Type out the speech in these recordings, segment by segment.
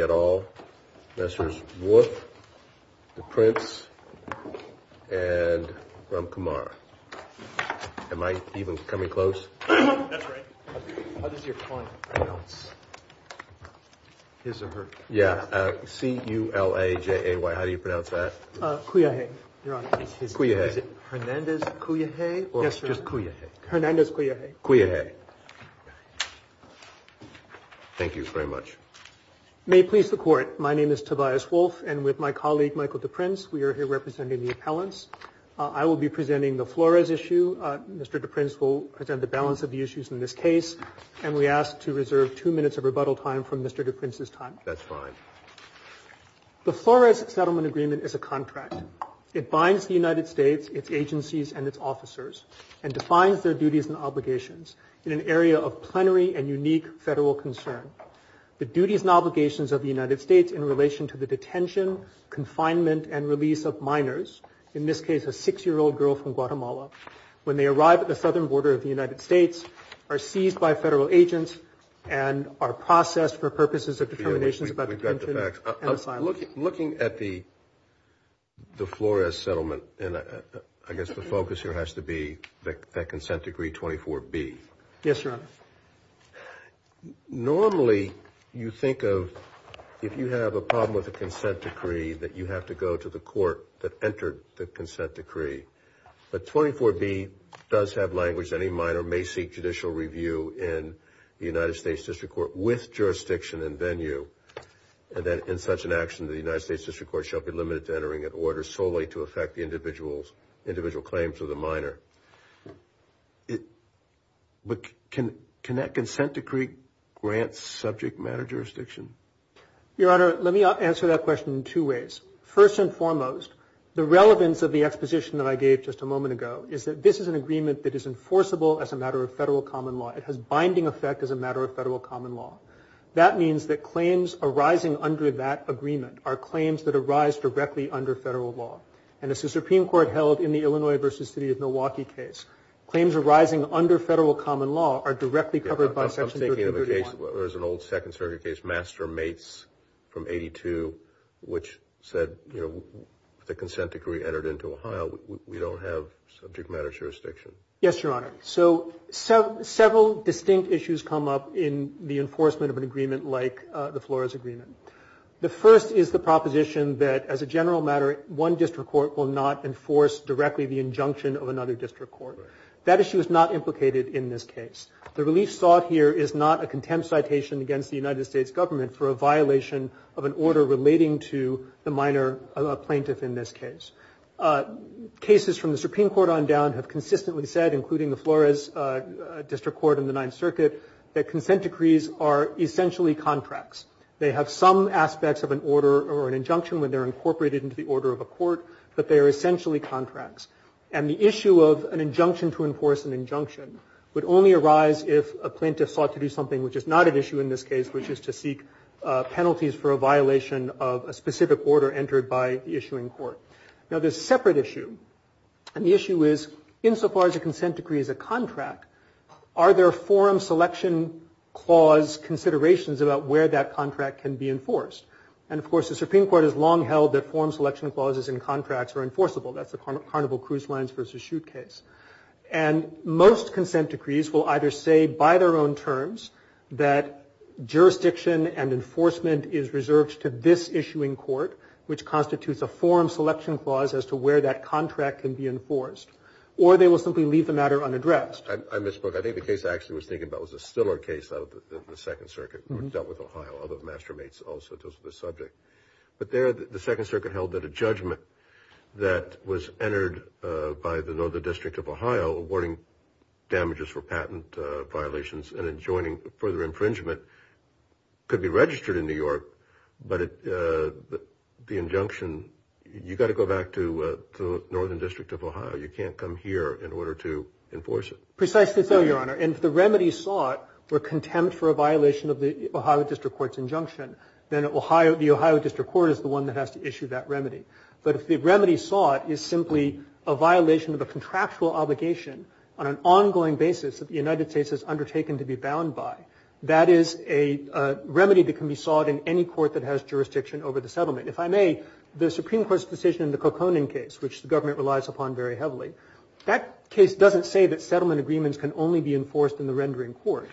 at all, Messrs. Wolfe, DePrince, and Ramkumar. Am I even coming close? That's right. How does your client pronounce his or her name? Yeah. C-U-L-A-J-A-Y. How do you pronounce that? Culajay, Your Honor. Culajay. Is it Hernandez Culajay or just Culajay? Hernandez Culajay. Culajay. Thank you very much. May it please the Court, my name is Tobias Wolfe, and with my colleague Michael DePrince, we are here representing the appellants. I will be presenting the Flores issue. Mr. DePrince will present the balance of the issues in this case. And we ask to reserve two minutes of rebuttal time from Mr. DePrince's time. That's fine. The Flores Settlement Agreement is a contract. It binds the United States, its agencies, and its officers, and defines their duties and obligations in an area of plenary and unique federal concern. The duties and obligations of the United States in relation to the detention, confinement, and release of minors, in this case a six-year-old girl from Guatemala, when they arrive at the southern border of the United States, are seized by federal agents and are processed for purposes of determinations about detention and asylum. We've got the facts. Looking at the Flores Settlement, I guess the focus here has to be that consent decree 24B. Yes, Your Honor. Normally you think of if you have a problem with a consent decree that you have to go to the court that entered the consent decree. But 24B does have language. Any minor may seek judicial review in the United States District Court with jurisdiction and venue. And then in such an action, the United States District Court shall be limited to entering an order solely to affect the individual claims of the minor. But can that consent decree grant subject matter jurisdiction? Your Honor, let me answer that question in two ways. First and foremost, the relevance of the exposition that I gave just a moment ago is that this is an agreement that is enforceable as a matter of federal common law. It has binding effect as a matter of federal common law. That means that claims arising under that agreement are claims that arise directly under federal law. And as the Supreme Court held in the Illinois v. City of Milwaukee case, claims arising under federal common law are directly covered by Section 331. There's an old Second Circuit case, Mastermates from 82, which said, you know, the consent decree entered into Ohio. We don't have subject matter jurisdiction. Yes, Your Honor. So several distinct issues come up in the enforcement of an agreement like the Flores Agreement. The first is the proposition that as a general matter, one district court will not enforce directly the injunction of another district court. That issue is not implicated in this case. The relief sought here is not a contempt citation against the United States government for a violation of an order relating to the minor plaintiff in this case. Cases from the Supreme Court on down have consistently said, including the Flores District Court in the Ninth Circuit, that consent decrees are essentially contracts. They have some aspects of an order or an injunction when they're incorporated into the order of a court, but they are essentially contracts. And the issue of an injunction to enforce an injunction would only arise if a plaintiff sought to do something, which is not an issue in this case, which is to seek penalties for a violation of a specific order entered by the issuing court. Now, there's a separate issue. And the issue is, insofar as a consent decree is a contract, are there forum selection clause considerations about where that contract can be enforced? And, of course, the Supreme Court has long held that forum selection clauses in contracts are enforceable. That's the Carnival Cruise Lines v. Chute case. And most consent decrees will either say by their own terms that jurisdiction and enforcement is reserved to this issuing court, which constitutes a forum selection clause as to where that contract can be enforced, or they will simply leave the matter unaddressed. I misspoke. I think the case I actually was thinking about was a Stiller case out of the Second Circuit, dealt with Ohio, other mastermates also dealt with this subject. But there the Second Circuit held that a judgment that was entered by the Northern District of Ohio, awarding damages for patent violations and enjoining further infringement could be registered in New York, but the injunction, you've got to go back to the Northern District of Ohio. You can't come here in order to enforce it. Precisely so, Your Honor. And if the remedies sought were contempt for a violation of the Ohio District Court's injunction, then the Ohio District Court is the one that has to issue that remedy. But if the remedy sought is simply a violation of a contractual obligation on an ongoing basis that the United States has undertaken to be bound by, that is a remedy that can be sought in any court that has jurisdiction over the settlement. If I may, the Supreme Court's decision in the Coconin case, which the government relies upon very heavily, that case doesn't say that settlement agreements can only be enforced in the rendering court.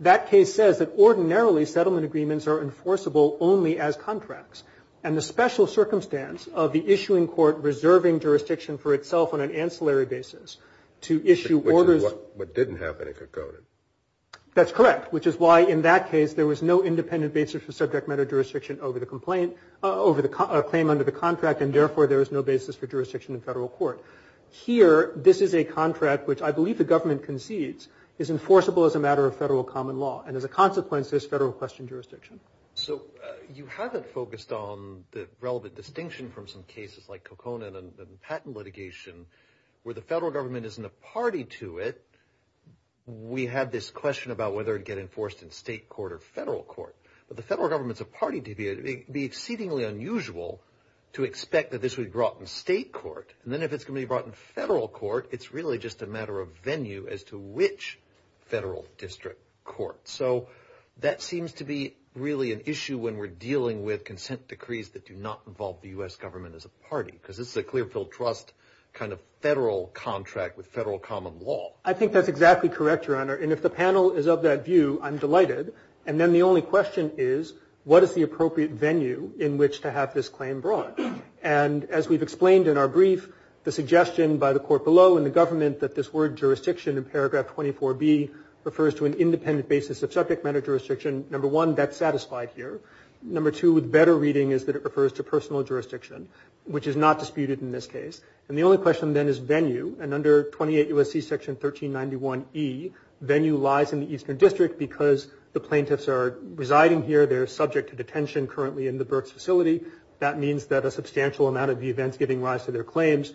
That case says that ordinarily settlement agreements are enforceable only as contracts. And the special circumstance of the issuing court reserving jurisdiction for itself on an ancillary basis to issue orders Which is what didn't happen in Coconin. That's correct, which is why in that case there was no independent basis for subject matter jurisdiction over the complaint, over the claim under the contract, and therefore there is no basis for jurisdiction in federal court. Here, this is a contract which I believe the government concedes is enforceable as a matter of federal common law. And as a consequence, there's federal question jurisdiction. So you haven't focused on the relevant distinction from some cases like Coconin and patent litigation where the federal government isn't a party to it. We have this question about whether it would get enforced in state court or federal court. But the federal government's a party to it. It would be exceedingly unusual to expect that this would be brought in state court. And then if it's going to be brought in federal court, it's really just a matter of venue as to which federal district court. So that seems to be really an issue when we're dealing with consent decrees that do not involve the U.S. government as a party because this is a Clearfield Trust kind of federal contract with federal common law. I think that's exactly correct, Your Honor. And if the panel is of that view, I'm delighted. And then the only question is what is the appropriate venue in which to have this claim brought? And as we've explained in our brief, the suggestion by the court below and the government that this word jurisdiction in paragraph 24B refers to an independent basis of subject matter jurisdiction, number one, that's satisfied here. Number two, with better reading, is that it refers to personal jurisdiction, which is not disputed in this case. And the only question then is venue. And under 28 U.S.C. section 1391E, venue lies in the eastern district because the plaintiffs are residing here. They're subject to detention currently in the Burks facility. That means that a substantial amount of the events giving rise to their claims,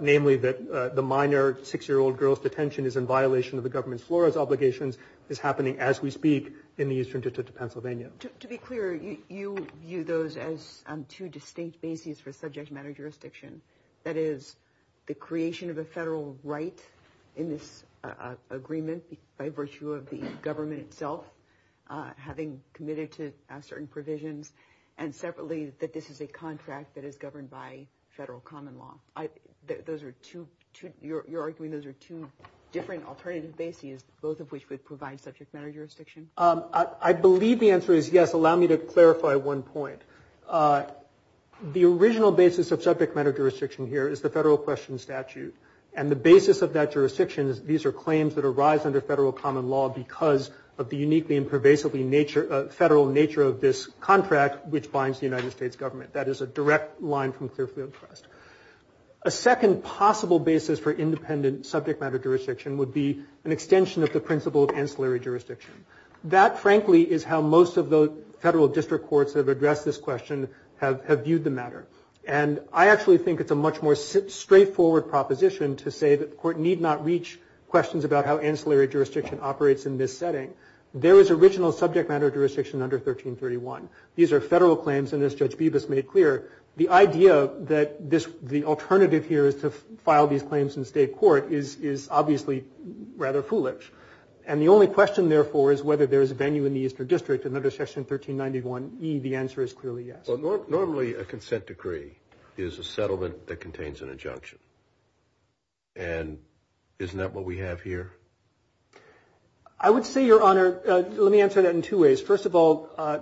namely that the minor 6-year-old girl's detention is in violation of the government's FLORES obligations, is happening as we speak in the eastern district of Pennsylvania. To be clear, you view those as two distinct bases for subject matter jurisdiction. That is the creation of a federal right in this agreement by virtue of the government itself having committed to certain provisions. And separately, that this is a contract that is governed by federal common law. You're arguing those are two different alternative bases, both of which would provide subject matter jurisdiction? I believe the answer is yes. Allow me to clarify one point. The original basis of subject matter jurisdiction here is the federal question statute. And the basis of that jurisdiction is these are claims that arise under federal common law because of the uniquely and pervasively federal nature of this contract, which binds the United States government. That is a direct line from Clearfield Trust. A second possible basis for independent subject matter jurisdiction would be an extension of the principle of ancillary jurisdiction. That, frankly, is how most of the federal district courts that have addressed this question have viewed the matter. And I actually think it's a much more straightforward proposition to say that the court need not reach questions about how ancillary jurisdiction operates in this setting. There is original subject matter jurisdiction under 1331. These are federal claims, and as Judge Bibas made clear, the idea that the alternative here is to file these claims in state court is obviously rather foolish. And the only question, therefore, is whether there is a venue in the Eastern District, and under Section 1391e, the answer is clearly yes. Normally a consent decree is a settlement that contains an injunction. And isn't that what we have here? I would say, Your Honor, let me answer that in two ways. First of all,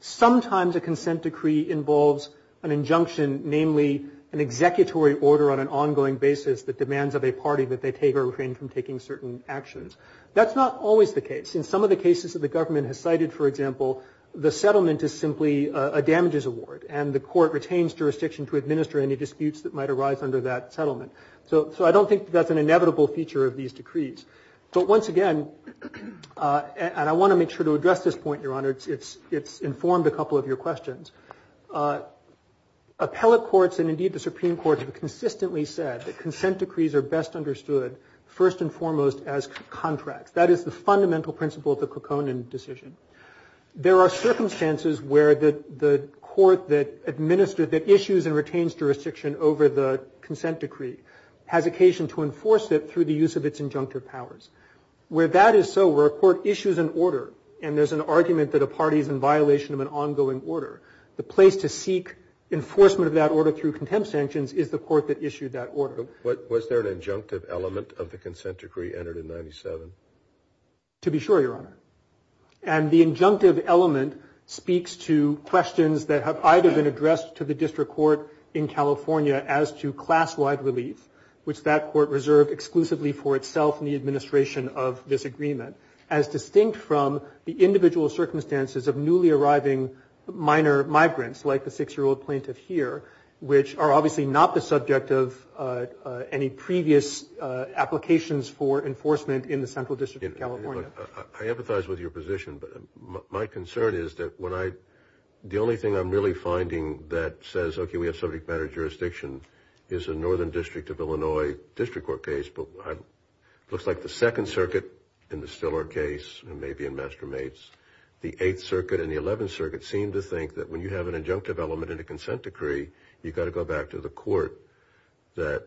sometimes a consent decree involves an injunction, namely an executory order on an ongoing basis that demands of a party that they take or refrain from taking certain actions. That's not always the case. In some of the cases that the government has cited, for example, the settlement is simply a damages award, and the court retains jurisdiction to administer any disputes that might arise under that settlement. So I don't think that's an inevitable feature of these decrees. But once again, and I want to make sure to address this point, Your Honor, it's informed a couple of your questions. Appellate courts and indeed the Supreme Court have consistently said that consent decrees are best understood first and foremost as contracts. That is the fundamental principle of the Kokonin decision. There are circumstances where the court that issues and retains jurisdiction over the consent decree has occasion to enforce it through the use of its injunctive powers. Where that is so, where a court issues an order and there's an argument that a party is in violation of an ongoing order, the place to seek enforcement of that order through contempt sanctions is the court that issued that order. Was there an injunctive element of the consent decree entered in 97? To be sure, Your Honor. And the injunctive element speaks to questions that have either been addressed to the district court in California as to class-wide relief, which that court reserved exclusively for itself and the administration of this agreement, as distinct from the individual circumstances of newly arriving minor migrants, like the six-year-old plaintiff here, which are obviously not the subject of any previous applications for enforcement in the Central District of California. I empathize with your position, but my concern is that when I, the only thing I'm really finding that says, okay, we have subject matter jurisdiction, is a Northern District of Illinois district court case, but it looks like the Second Circuit in the Stiller case, and maybe in Mastermates, the Eighth Circuit and the Eleventh Circuit seem to think that when you have an injunctive element in a consent decree, you've got to go back to the court that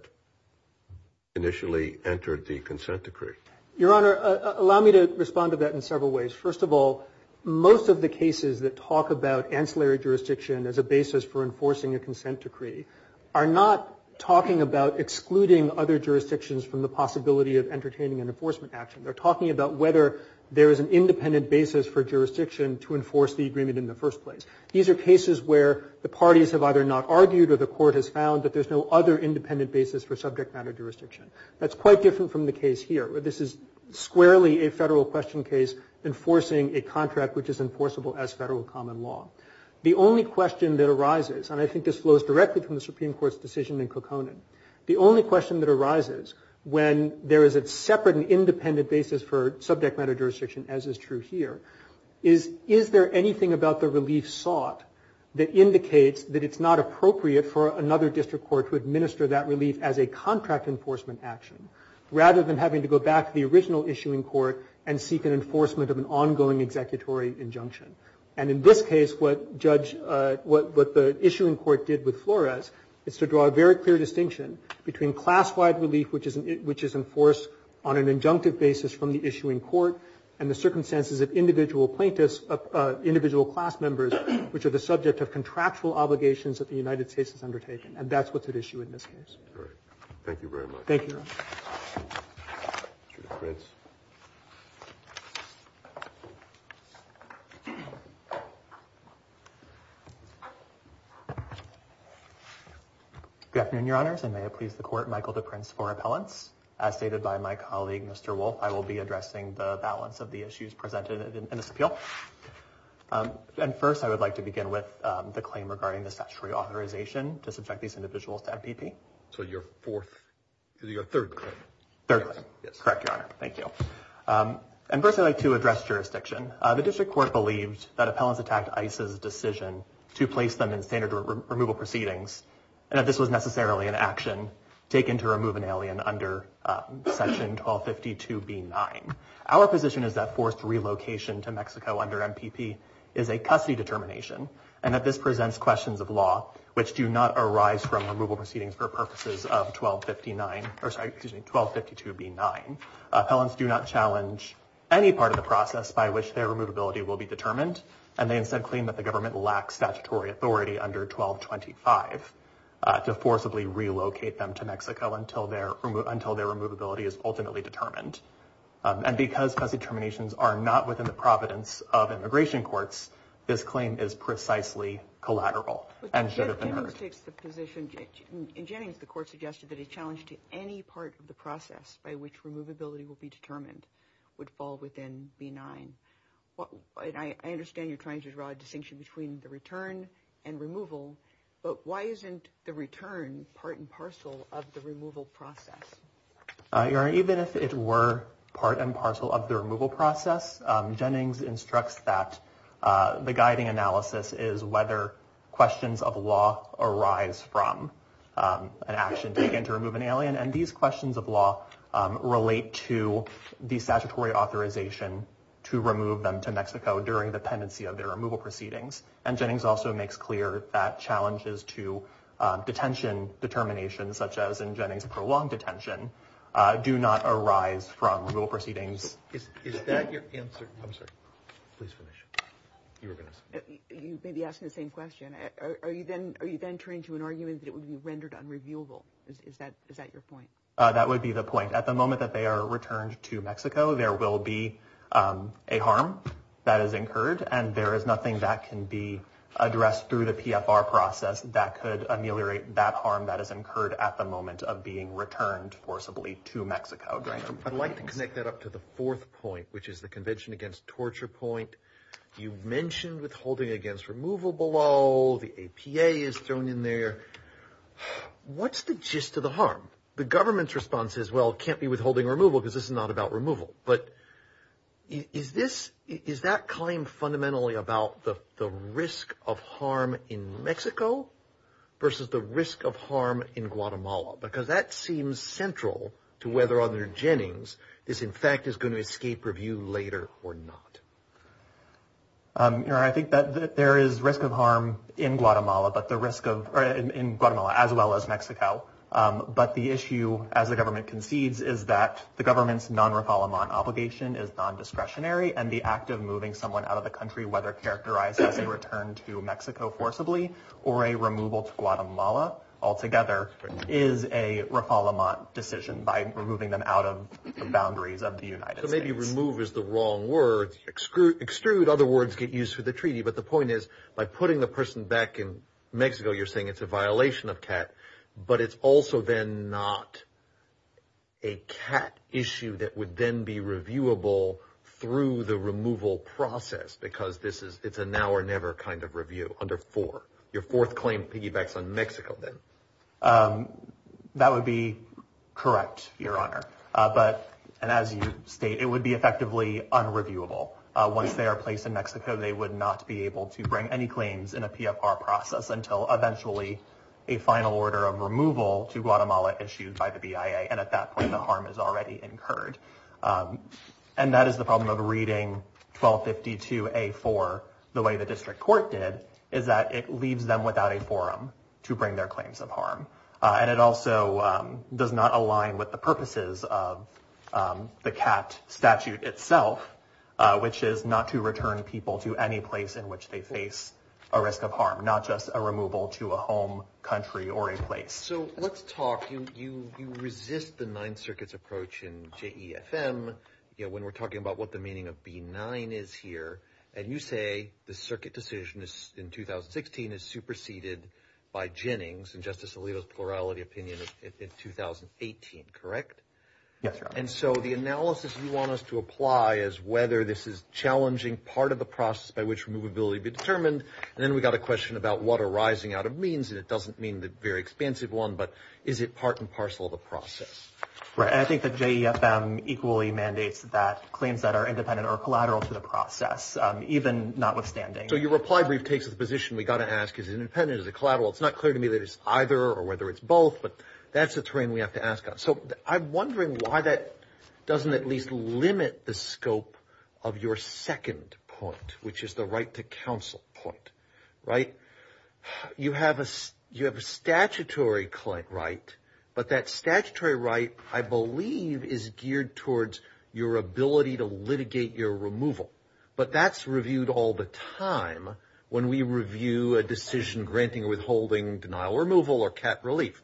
initially entered the consent decree. Your Honor, allow me to respond to that in several ways. First of all, most of the cases that talk about ancillary jurisdiction as a basis for enforcing a consent decree are not talking about excluding other jurisdictions from the possibility of entertaining an enforcement action. They're talking about whether there is an independent basis for jurisdiction to enforce the agreement in the first place. These are cases where the parties have either not argued or the court has found that there's no other independent basis for subject matter jurisdiction. That's quite different from the case here. This is squarely a federal question case enforcing a contract which is enforceable as federal common law. The only question that arises, and I think this flows directly from the Supreme Court's decision in Kokonon, the only question that arises when there is a separate and independent basis for subject matter jurisdiction, as is true here, is is there anything about the relief sought that indicates that it's not appropriate for another district court to administer that relief as a contract enforcement action rather than having to go back to the original issuing court and seek an enforcement of an ongoing executory injunction. And in this case, what the issuing court did with Flores is to draw a very clear distinction between class-wide relief which is enforced on an injunctive basis from the issuing court and the circumstances of individual plaintiffs, individual class members, which are the subject of contractual obligations that the United States has undertaken. And that's what's at issue in this case. Thank you very much. Thank you, Your Honor. Good afternoon, Your Honors, and may it please the Court, Michael DePrince for appellants. As stated by my colleague, Mr. Wolfe, I will be addressing the balance of the issues presented in this appeal. And first, I would like to begin with the claim regarding the statutory authorization to subject these individuals to MPP. So your fourth, your third claim. Third claim. Correct, Your Honor. Thank you. And first, I'd like to address jurisdiction. The district court believed that appellants attacked ICE's decision to place them in standard removal proceedings and that this was necessarily an action taken to remove an alien under section 1252b-9. Our position is that forced relocation to Mexico under MPP is a custody determination and that this presents questions of law which do not arise from removal proceedings for purposes of 1252b-9. Appellants do not challenge any part of the process by which their removability will be determined, and they instead claim that the government lacks statutory authority under 1225 to forcibly relocate them to Mexico until their removability is ultimately determined. And because custody determinations are not within the providence of immigration courts, this claim is precisely collateral and should have been heard. In Jennings, the court suggested that a challenge to any part of the process by which removability will be determined would fall within b-9. I understand you're trying to draw a distinction between the return and removal, but why isn't the return part and parcel of the removal process? Even if it were part and parcel of the removal process, Jennings instructs that the guiding analysis is whether questions of law and these questions of law relate to the statutory authorization to remove them to Mexico during the pendency of their removal proceedings. And Jennings also makes clear that challenges to detention determinations, such as in Jennings' prolonged detention, do not arise from removal proceedings. Is that your answer? You may be asking the same question. Are you then turning to an argument that it would be rendered unreviewable? Is that your point? That would be the point. At the moment that they are returned to Mexico, there will be a harm that is incurred, and there is nothing that can be addressed through the PFR process that could ameliorate that harm that is incurred at the moment of being returned forcibly to Mexico. I'd like to connect that up to the fourth point, which is the convention against torture point. You've mentioned withholding against removal below. The APA is thrown in there. What's the gist of the harm? The government's response is, well, it can't be withholding removal because this is not about removal. But is that claim fundamentally about the risk of harm in Mexico versus the risk of harm in Guatemala? Because that seems central to whether under Jennings this, in fact, is going to escape review later or not. I think that there is risk of harm in Guatemala as well as Mexico. But the issue, as the government concedes, is that the government's non-refoulement obligation is non-discretionary, and the act of moving someone out of the country, whether characterized as a return to Mexico forcibly or a removal to Guatemala altogether, is a refoulement decision by removing them out of the boundaries of the United States. So maybe remove is the wrong word. Extrude, other words, get used for the treaty. But the point is, by putting the person back in Mexico, you're saying it's a violation of CAT. But it's also then not a CAT issue that would then be reviewable through the removal process because it's a now or never kind of review under four. Your fourth claim piggybacks on Mexico, then. That would be correct, Your Honor. And as you state, it would be effectively unreviewable. Once they are placed in Mexico, they would not be able to bring any claims in a PFR process until eventually a final order of removal to Guatemala issued by the BIA. And at that point, the harm is already incurred. And that is the problem of reading 1252A4 the way the district court did, is that it leaves them without a forum to bring their claims of harm. And it also does not align with the purposes of the CAT statute itself, which is not to return people to any place in which they face a risk of harm, not just a removal to a home, country, or a place. So let's talk. You resist the Ninth Circuit's approach in JEFM when we're talking about what the meaning of B9 is here. And you say the circuit decision in 2016 is superseded by Jennings and Justice Alito's plurality opinion in 2018, correct? Yes, Your Honor. And so the analysis you want us to apply is whether this is challenging part of the process by which removability would be determined. And then we've got a question about what arising out of means, and it doesn't mean the very expansive one, but is it part and parcel of the process? I think that JEFM equally mandates that claims that are independent are collateral to the process, even notwithstanding. So your reply brief takes the position we've got to ask, is it independent, is it collateral? It's not clear to me that it's either or whether it's both, but that's the terrain we have to ask on. So I'm wondering why that doesn't at least limit the scope of your second point, which is the right to counsel point, right? You have a statutory right, but that statutory right, I believe, is geared towards your ability to litigate your removal. But that's reviewed all the time when we review a decision granting or withholding denial of removal or cap relief.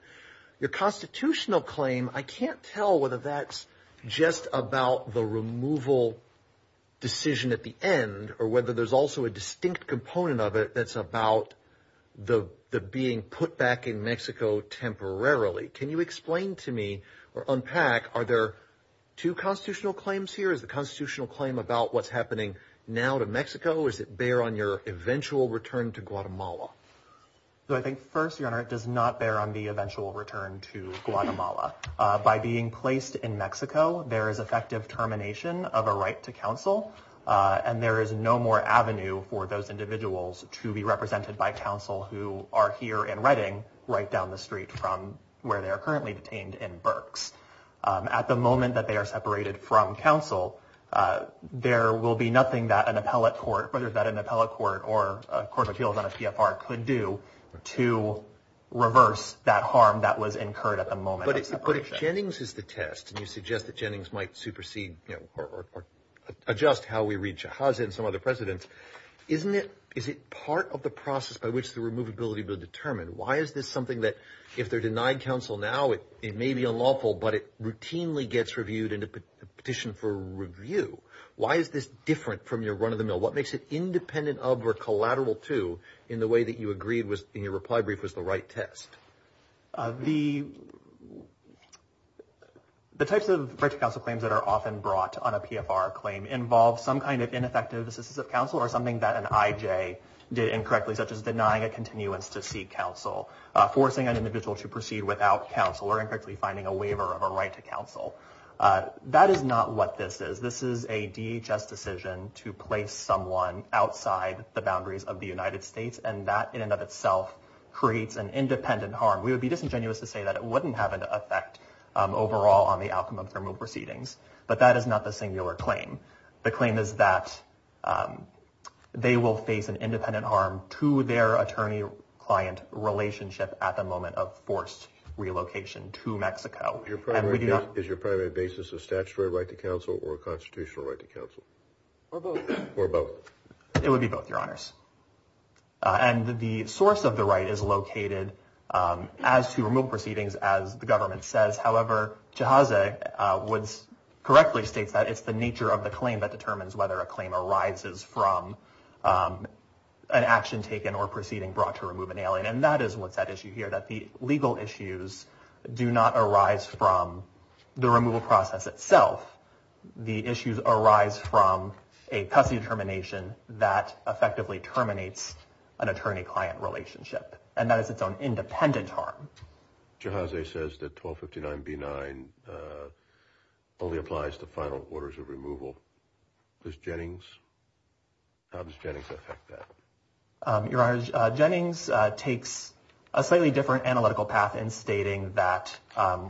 Your constitutional claim, I can't tell whether that's just about the removal decision at the end or whether there's also a distinct component of it that's about the being put back in Mexico temporarily. Can you explain to me or unpack, are there two constitutional claims here? Is the constitutional claim about what's happening now to Mexico, or does it bear on your eventual return to Guatemala? I think first, Your Honor, it does not bear on the eventual return to Guatemala. By being placed in Mexico, there is effective termination of a right to counsel, and there is no more avenue for those individuals to be represented by counsel who are here in Reading right down the street from where they are currently detained in Berks. At the moment that they are separated from counsel, there will be nothing that an appellate court, whether that's an appellate court or a court of appeals on a PFR, could do to reverse that harm that was incurred at the moment of separation. But if Jennings is the test, and you suggest that Jennings might supersede or adjust how we read Chávez and some other presidents, isn't it part of the process by which the removability will be determined? Why is this something that if they're denied counsel now, it may be unlawful, but it routinely gets reviewed in a petition for review? Why is this different from your run-of-the-mill? What makes it independent of or collateral to in the way that you agreed in your reply brief was the right test? The types of right to counsel claims that are often brought on a PFR claim involve some kind of ineffective assistance of counsel or something that an IJ did incorrectly, such as denying a continuance to seek counsel, forcing an individual to proceed without counsel, or incorrectly finding a waiver of a right to counsel. That is not what this is. This is a DHS decision to place someone outside the boundaries of the United States, and that in and of itself creates an independent harm. We would be disingenuous to say that it wouldn't have an effect overall on the outcome of the removal proceedings, but that is not the singular claim. The claim is that they will face an independent harm to their attorney-client relationship at the moment of forced relocation to Mexico. Is your primary basis a statutory right to counsel or a constitutional right to counsel? Or both. Or both. It would be both, Your Honors. And the source of the right is located as to removal proceedings, as the government says. However, Jahazeh Woods correctly states that it's the nature of the claim that determines whether a claim arises from an action taken or proceeding brought to remove an alien, and that is what's at issue here, that the legal issues do not arise from the removal process itself. The issues arise from a custody determination that effectively terminates an attorney-client relationship, and that is its own independent harm. Jahazeh says that 1259B9 only applies to final orders of removal. Does Jennings? How does Jennings affect that? Your Honors, Jennings takes a slightly different analytical path in stating that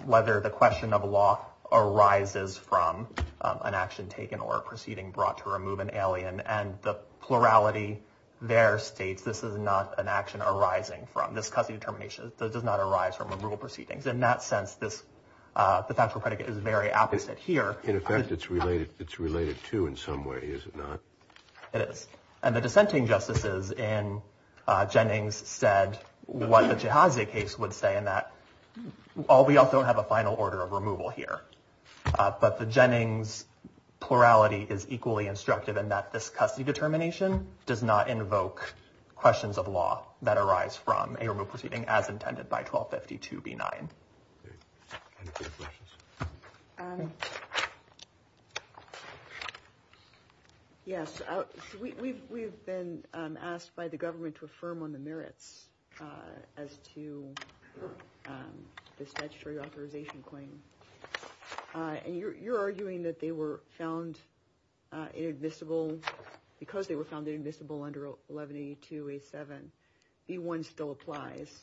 whether the question of law arises from an action taken or a proceeding brought to remove an alien, and the plurality there states this is not an action arising from. This custody determination does not arise from removal proceedings. In that sense, the factual predicate is very opposite here. In effect, it's related to in some way, is it not? It is. And the dissenting justices in Jennings said what the Jahazeh case would say, in that we also don't have a final order of removal here. But the Jennings plurality is equally instructive in that this custody determination does not invoke questions of law that arise from a removal proceeding as intended by 1252B9. Any further questions? Yes. We've been asked by the government to affirm on the merits as to the statutory authorization claim. And you're arguing that they were found inadmissible because they were found inadmissible under 1182A7. B1 still applies,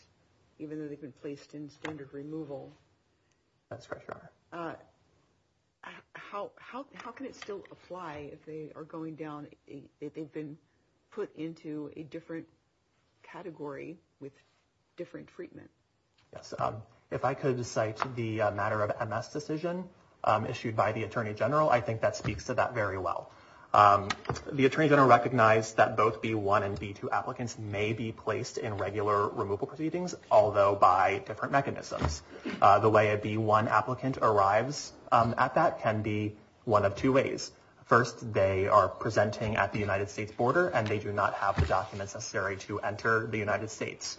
even though they've been placed in standard removal. That's correct, Your Honor. How can it still apply if they are going down, if they've been put into a different category with different treatment? Yes. If I could cite the matter of MS decision issued by the Attorney General, I think that speaks to that very well. The Attorney General recognized that both B1 and B2 applicants may be placed in regular removal proceedings, although by different mechanisms. The way a B1 applicant arrives at that can be one of two ways. First, they are presenting at the United States border, and they do not have the documents necessary to enter the United States.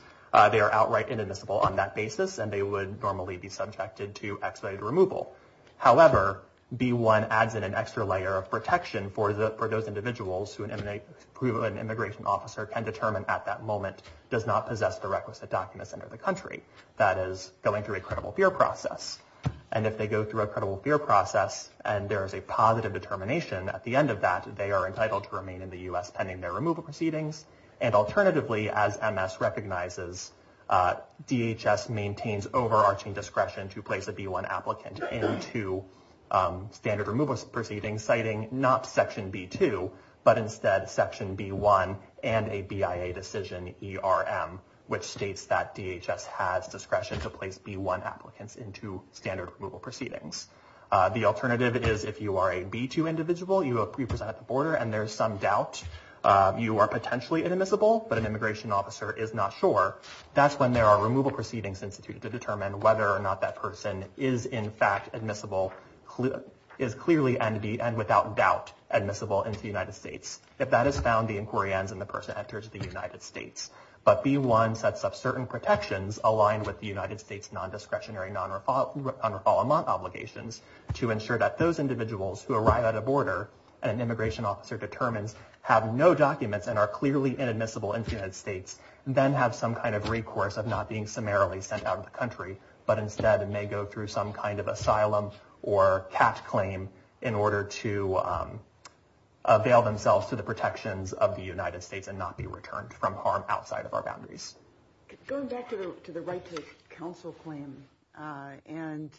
They are outright inadmissible on that basis, and they would normally be subjected to expedited removal. However, B1 adds in an extra layer of protection for those individuals who an immigration officer can determine at that moment does not possess the requisite documents under the country, that is, going through a credible fear process. And if they go through a credible fear process and there is a positive determination at the end of that, they are entitled to remain in the U.S. pending their removal proceedings. And alternatively, as MS recognizes, DHS maintains overarching discretion to place a B1 applicant into standard removal proceedings, citing not Section B2, but instead Section B1 and a BIA decision, ERM, which states that DHS has discretion to place B1 applicants into standard removal proceedings. The alternative is if you are a B2 individual, you are presented at the border, and there is some doubt you are potentially inadmissible, but an immigration officer is not sure, that's when there are removal proceedings instituted to determine whether or not that person is in fact admissible, is clearly and without doubt admissible into the United States. If that is found, the inquiry ends and the person enters the United States. But B1 sets up certain protections aligned with the United States non-discretionary non-refoulement obligations to ensure that those individuals who arrive at a border, an immigration officer determines, have no documents and are clearly inadmissible into the United States, then have some kind of recourse of not being summarily sent out of the country, but instead may go through some kind of asylum or CAT claim in order to avail themselves to the protections of the United States and not be returned from harm outside of our boundaries. Going back to the right to counsel claim and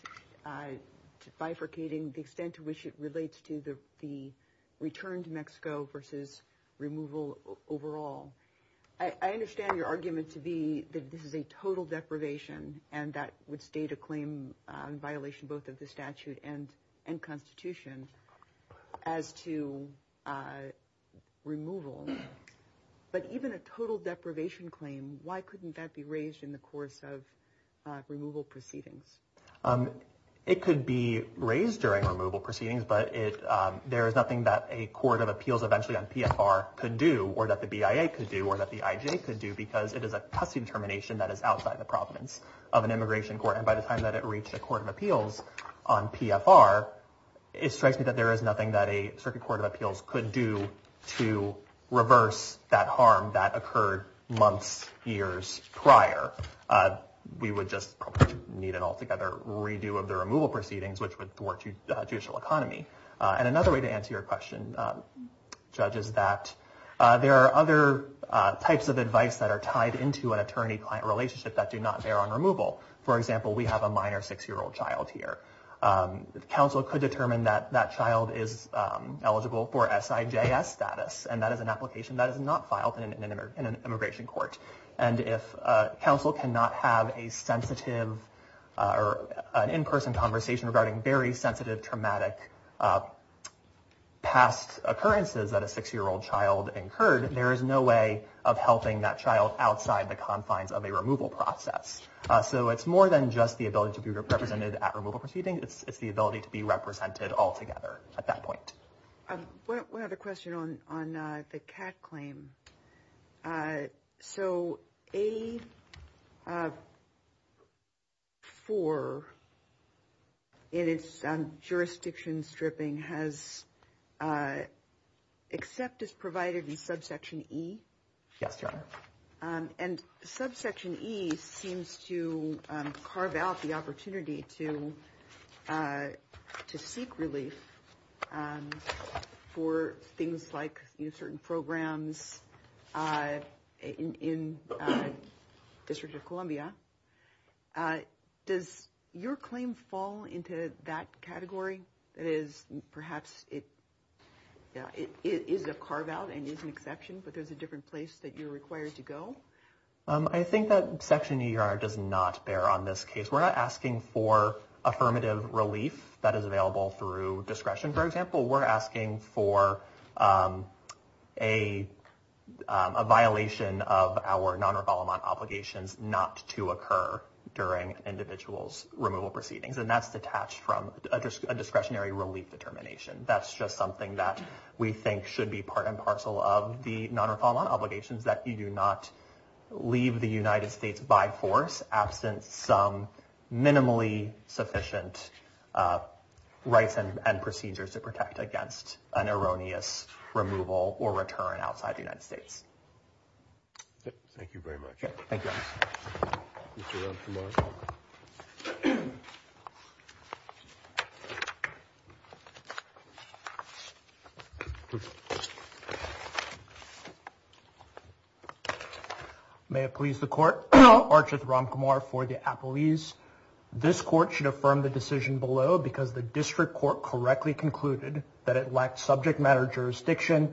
bifurcating the extent to which it relates to the return to Mexico versus removal overall, I understand your argument to be that this is a total deprivation, and that would state a claim in violation both of the statute and constitution as to removal. But even a total deprivation claim, why couldn't that be raised in the course of removal proceedings? It could be raised during removal proceedings, but there is nothing that a court of appeals eventually on PFR could do or that the BIA could do or that the IJ could do, because it is a custody determination that is outside the province of an immigration court. And by the time that it reached a court of appeals on PFR, it strikes me that there is nothing that a circuit court of appeals could do to reverse that harm that occurred months, years prior. We would just need an altogether redo of the removal proceedings, which would thwart the judicial economy. And another way to answer your question, Judge, is that there are other types of advice that are tied into an attorney-client relationship that do not bear on removal. For example, we have a minor six-year-old child here. Counsel could determine that that child is eligible for SIJS status, and that is an application that is not filed in an immigration court. And if counsel cannot have a sensitive or an in-person conversation regarding very sensitive, traumatic past occurrences that a six-year-old child incurred, there is no way of helping that child outside the confines of a removal process. So it's more than just the ability to be represented at removal proceedings. It's the ability to be represented altogether at that point. One other question on the CAT claim. So A-4 in its jurisdiction stripping has except as provided in subsection E? Yes, Your Honor. And subsection E seems to carve out the opportunity to seek relief for things like certain programs in District of Columbia. Does your claim fall into that category? That is, perhaps it is a carve-out and is an exception, but there's a different place that you're required to go? I think that section E, Your Honor, does not bear on this case. We're not asking for affirmative relief that is available through discretion, for example. We're asking for a violation of our non-revolvement obligations not to occur during individuals' removal proceedings. And that's detached from a discretionary relief determination. That's just something that we think should be part and parcel of the non-revolvement obligations, that you do not leave the United States by force, absent some minimally sufficient rights and procedures to protect against an erroneous removal or return outside the United States. Thank you very much. Thank you, Your Honor. Mr. Ramkumar. May it please the Court, Archie Ramkumar for the appellees. This Court should affirm the decision below because the District Court correctly concluded that it lacked subject matter jurisdiction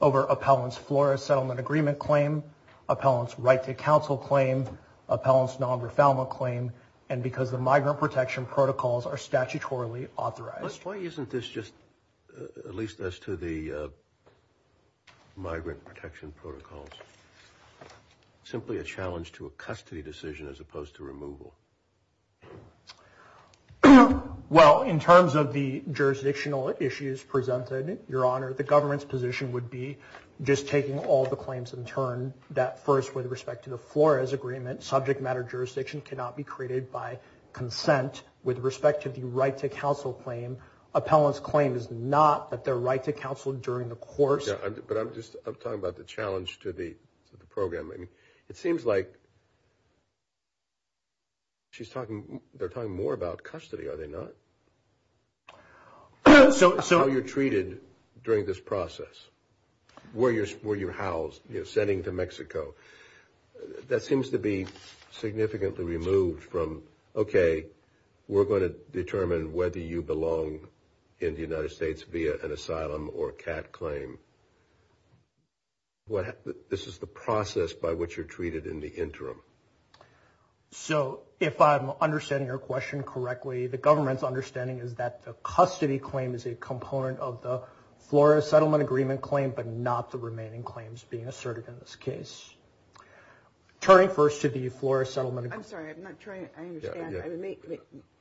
over appellant's FLORA settlement agreement claim, appellant's right to counsel claim, appellant's non-refoulement claim, and because the migrant protection protocols are statutorily authorized. Why isn't this just, at least as to the migrant protection protocols, simply a challenge to a custody decision as opposed to removal? Well, in terms of the jurisdictional issues presented, Your Honor, the government's position would be just taking all the claims in turn, that first with respect to the FLORA's agreement, subject matter jurisdiction cannot be created by consent. With respect to the right to counsel claim, appellant's claim is not that they're right to counsel during the course. But I'm just talking about the challenge to the programming. It seems like she's talking, they're talking more about custody, are they not? How you're treated during this process, where you're housed, you're sending to Mexico, that seems to be significantly removed from, okay, we're going to determine whether you belong in the United States via an asylum or CAT claim. This is the process by which you're treated in the interim. So if I'm understanding your question correctly, the government's understanding is that the custody claim is a component of the FLORA settlement agreement claim, but not the remaining claims being asserted in this case. Turning first to the FLORA settlement agreement. I'm sorry, I'm not trying, I understand.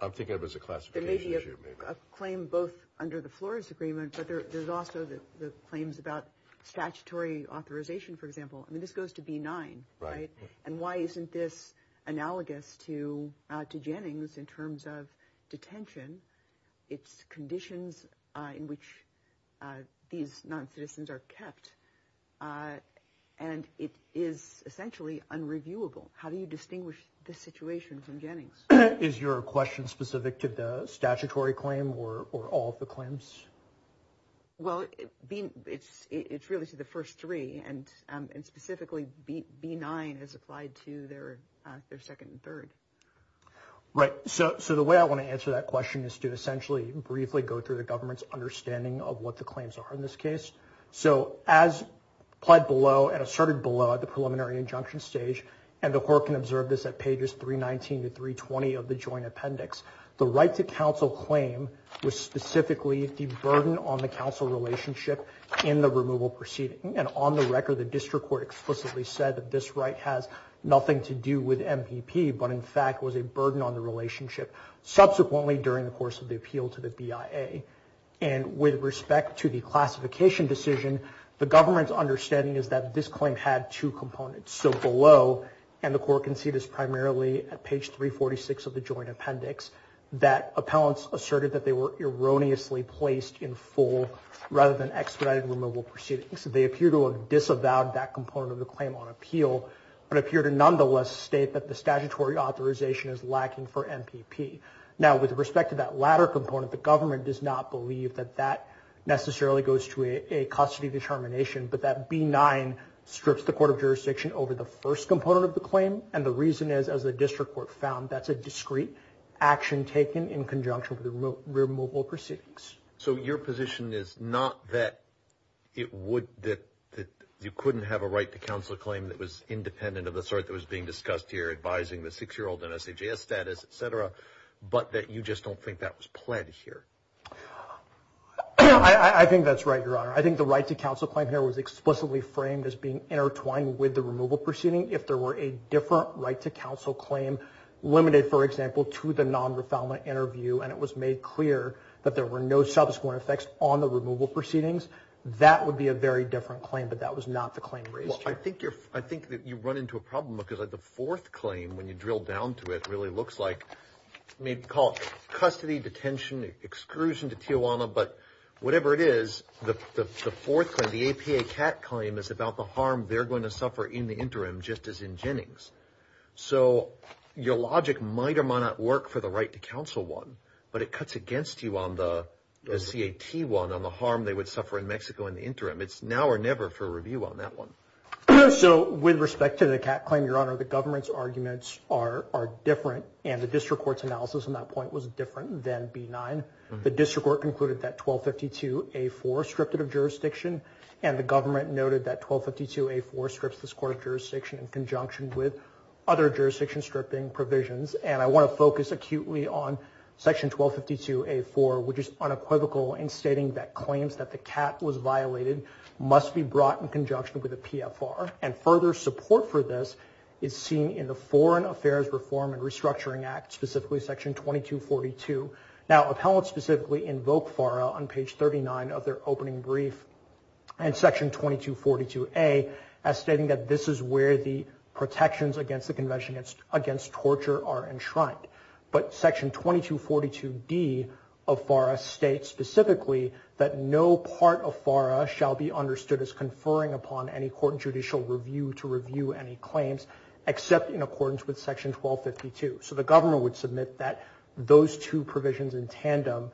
I'm thinking of it as a classification issue. There may be a claim both under the FLORA's agreement, but there's also the claims about statutory authorization, for example. I mean, this goes to B-9, right? And why isn't this analogous to Jennings in terms of detention? It's conditions in which these non-citizens are kept, and it is essentially unreviewable. How do you distinguish this situation from Jennings? Is your question specific to the statutory claim or all of the claims? Well, it's really to the first three, and specifically B-9 is applied to their second and third. Right. So the way I want to answer that question is to essentially briefly go through the government's understanding of what the claims are in this case. So as applied below and asserted below at the preliminary injunction stage, and the court can observe this at pages 319 to 320 of the joint appendix, the right to counsel claim was specifically the burden on the counsel relationship in the removal proceeding. And on the record, the district court explicitly said that this right has nothing to do with MPP, but in fact was a burden on the relationship subsequently during the course of the appeal to the BIA. And with respect to the classification decision, the government's understanding is that this claim had two components. So below, and the court can see this primarily at page 346 of the joint appendix, that appellants asserted that they were erroneously placed in full rather than expedited removal proceedings. They appear to have disavowed that component of the claim on appeal, but appear to nonetheless state that the statutory authorization is lacking for MPP. Now, with respect to that latter component, the government does not believe that that necessarily goes to a custody determination, but that B9 strips the court of jurisdiction over the first component of the claim. And the reason is, as the district court found, that's a discrete action taken in conjunction with the removal proceedings. So your position is not that you couldn't have a right to counsel claim that was independent of the sort that was being discussed here, advising the six-year-old in SJS status, et cetera, but that you just don't think that was pled here? I think that's right, Your Honor. I think the right to counsel claim here was explicitly framed as being intertwined with the removal proceeding. If there were a different right to counsel claim limited, for example, to the non-refoundment interview, and it was made clear that there were no subsequent effects on the removal proceedings, that would be a very different claim, but that was not the claim raised here. Well, I think you run into a problem, because the fourth claim, when you drill down to it, really looks like, I mean, call it custody, detention, exclusion to Tijuana, but whatever it is, the fourth claim, the APA CAT claim is about the harm they're going to suffer in the interim, just as in Jennings. So your logic might or might not work for the right to counsel one, but it cuts against you on the CAT one on the harm they would suffer in Mexico in the interim. It's now or never for review on that one. So with respect to the CAT claim, Your Honor, the government's arguments are different, and the district court's analysis on that point was different than B-9. The district court concluded that 1252-A-4 stripped it of jurisdiction, and the government noted that 1252-A-4 strips this court of jurisdiction in conjunction with other jurisdiction-stripping provisions, and I want to focus acutely on Section 1252-A-4, which is unequivocal in stating that claims that the CAT was violated must be brought in conjunction with a PFR, and further support for this is seen in the Foreign Affairs Reform and Restructuring Act, specifically Section 2242. Now, appellants specifically invoke FARA on page 39 of their opening brief and Section 2242-A as stating that this is where the protections against the Convention Against Torture are enshrined. But Section 2242-D of FARA states specifically that no part of FARA shall be understood as conferring upon any court judicial review to review any claims except in accordance with Section 1252. So the government would submit that those two provisions in tandem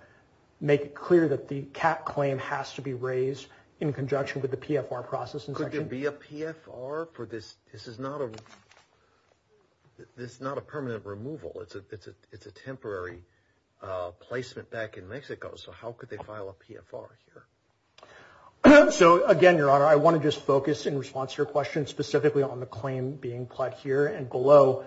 make it clear that the CAT claim has to be raised in conjunction with the PFR process. Could there be a PFR for this? This is not a permanent removal. It's a temporary placement back in Mexico. So how could they file a PFR here? So, again, Your Honor, I want to just focus in response to your question specifically on the claim being pled here and below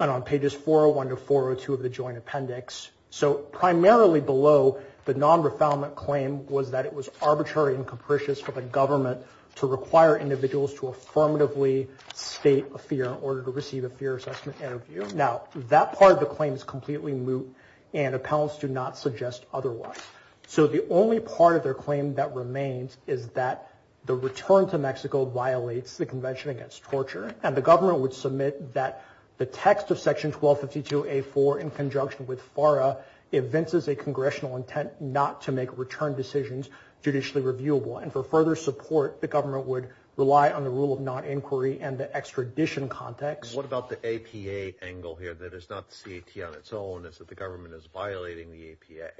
and on pages 401 to 402 of the joint appendix. So primarily below, the non-refoundment claim was that it was arbitrary and capricious for the government to require individuals to affirmatively state a fear in order to receive a fear assessment interview. Now, that part of the claim is completely moot, and appellants do not suggest otherwise. So the only part of their claim that remains is that the return to Mexico violates the Convention Against Torture, and the government would submit that the text of Section 1252A4 in conjunction with FARA evinces a congressional intent not to make return decisions judicially reviewable. And for further support, the government would rely on the rule of non-inquiry and the extradition context. What about the APA angle here that is not the CAT on its own, is that the government is violating the APA?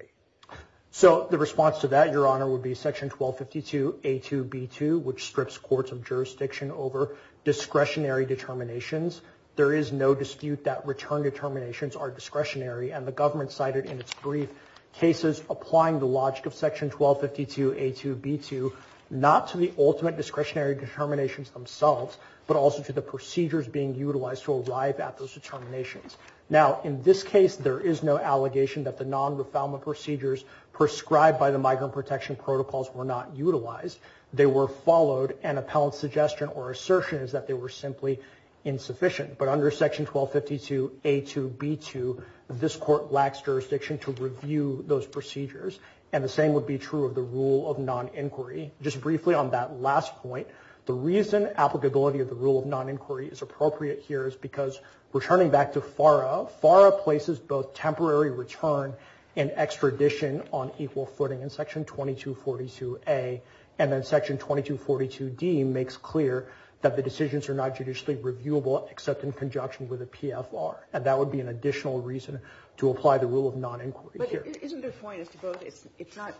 So the response to that, Your Honor, would be Section 1252A2B2, which strips courts of jurisdiction over discretionary determinations. There is no dispute that return determinations are discretionary, and the government cited in its brief cases applying the logic of Section 1252A2B2 not to the ultimate discretionary determinations themselves, but also to the procedures being utilized to arrive at those determinations. Now, in this case, there is no allegation that the non-refoundment procedures prescribed by the Migrant Protection Protocols were not utilized. They were followed, and appellant's suggestion or assertion is that they were simply insufficient. But under Section 1252A2B2, this court lacks jurisdiction to review those procedures, and the same would be true of the rule of non-inquiry. Just briefly on that last point, the reason applicability of the rule of non-inquiry is appropriate here is because returning back to FARA, FARA places both temporary return and extradition on equal footing in Section 2242A, and then Section 2242D makes clear that the decisions are not judicially reviewable except in conjunction with a PFR, and that would be an additional reason to apply the rule of non-inquiry here. But isn't the point as to both, it's not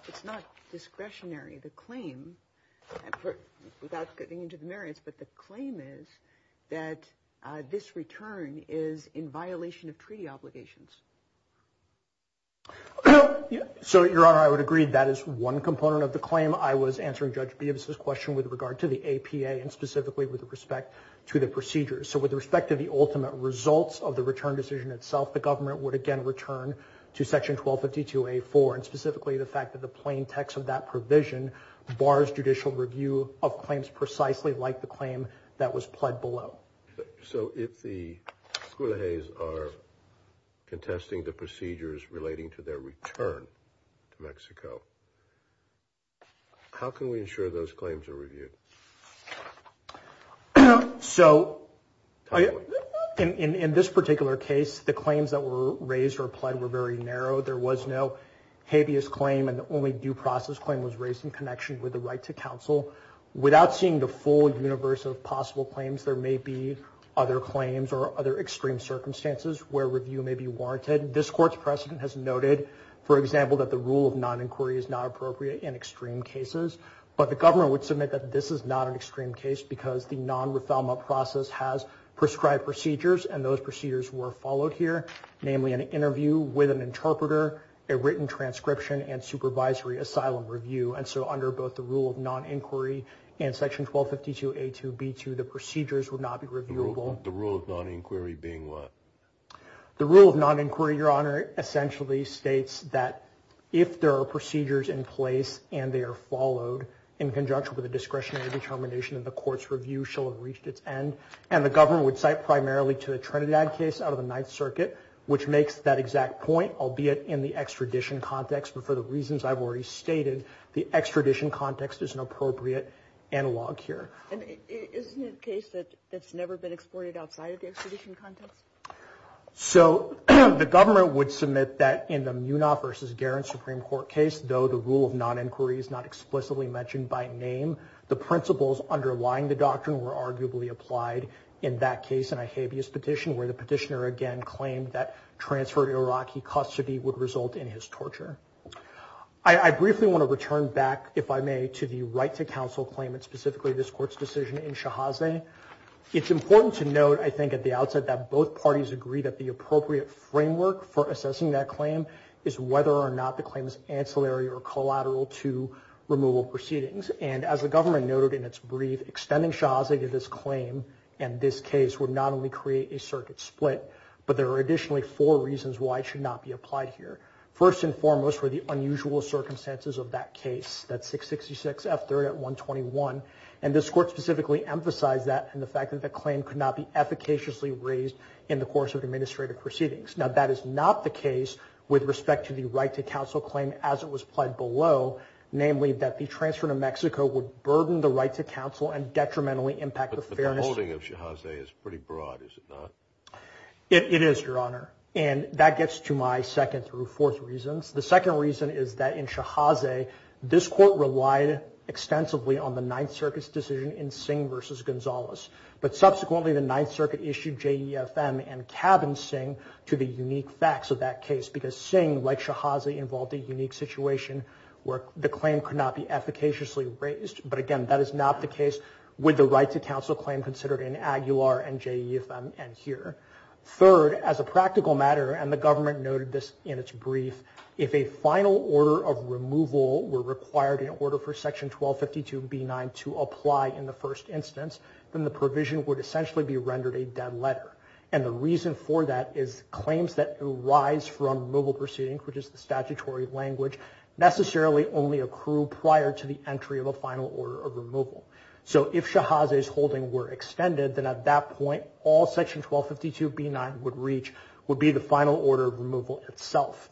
discretionary, the claim, without getting into the merits, but the claim is that this return is in violation of treaty obligations. So, Your Honor, I would agree that is one component of the claim. I was answering Judge Beeb's question with regard to the APA and specifically with respect to the procedures. So with respect to the ultimate results of the return decision itself, the government would again return to Section 1252A4, and specifically the fact that the plain text of that provision bars judicial review of claims precisely like the claim that was pled below. So if the Culejes are contesting the procedures relating to their return to Mexico, how can we ensure those claims are reviewed? So in this particular case, the claims that were raised or pled were very narrow. There was no habeas claim, and the only due process claim was raised in connection with the right to counsel. Without seeing the full universe of possible claims, there may be other claims or other extreme circumstances where review may be warranted. This Court's precedent has noted, for example, that the rule of non-inquiry is not appropriate in extreme cases, but the government would submit that this is not an extreme case because the non-refoulement process has prescribed procedures, and those procedures were followed here, namely an interview with an interpreter, a written transcription, and supervisory asylum review. And so under both the rule of non-inquiry and Section 1252A2B2, the procedures would not be reviewable. The rule of non-inquiry being what? The rule of non-inquiry, Your Honor, essentially states that if there are procedures in place and they are followed in conjunction with a discretionary determination, then the Court's review shall have reached its end. And the government would cite primarily to the Trinidad case out of the Ninth Circuit, which makes that exact point, albeit in the extradition context. But for the reasons I've already stated, the extradition context is an appropriate analog here. And isn't it a case that's never been explored outside of the extradition context? So the government would submit that in the Munaf versus Guerin Supreme Court case, though the rule of non-inquiry is not explicitly mentioned by name, the principles underlying the doctrine were arguably applied in that case in a habeas petition where the petitioner again claimed that transferred Iraqi custody would result in his torture. I briefly want to return back, if I may, to the right to counsel claim and specifically this Court's decision in Shahaze. It's important to note, I think, at the outset that both parties agree that the appropriate framework for assessing that claim is whether or not the claim is ancillary or collateral to removal proceedings. And as the government noted in its brief, extending Shahaze to this claim and this case would not only create a circuit split, but there are additionally four reasons why it should not be applied here. First and foremost were the unusual circumstances of that case, that 666 F3rd at 121, and this Court specifically emphasized that and the fact that the claim could not be efficaciously raised in the course of administrative proceedings. Now that is not the case with respect to the right to counsel claim as it was applied below, namely that the transfer to Mexico would burden the right to counsel and detrimentally impact the fairness. But the holding of Shahaze is pretty broad, is it not? It is, Your Honor, and that gets to my second through fourth reasons. The second reason is that in Shahaze, this Court relied extensively on the Ninth Circuit's decision in Singh v. Gonzalez, but subsequently the Ninth Circuit issued JEFM and cabined Singh to the unique facts of that case because Singh, like Shahaze, involved a unique situation where the claim could not be efficaciously raised. But again, that is not the case with the right to counsel claim considered in Aguilar and JEFM and here. Third, as a practical matter, and the government noted this in its brief, if a final order of removal were required in order for Section 1252b9 to apply in the first instance, then the provision would essentially be rendered a dead letter. And the reason for that is claims that arise from removal proceedings, which is the statutory language, necessarily only accrue prior to the entry of a final order of removal. So if Shahaze's holding were extended, then at that point, all Section 1252b9 would reach would be the final order of removal itself.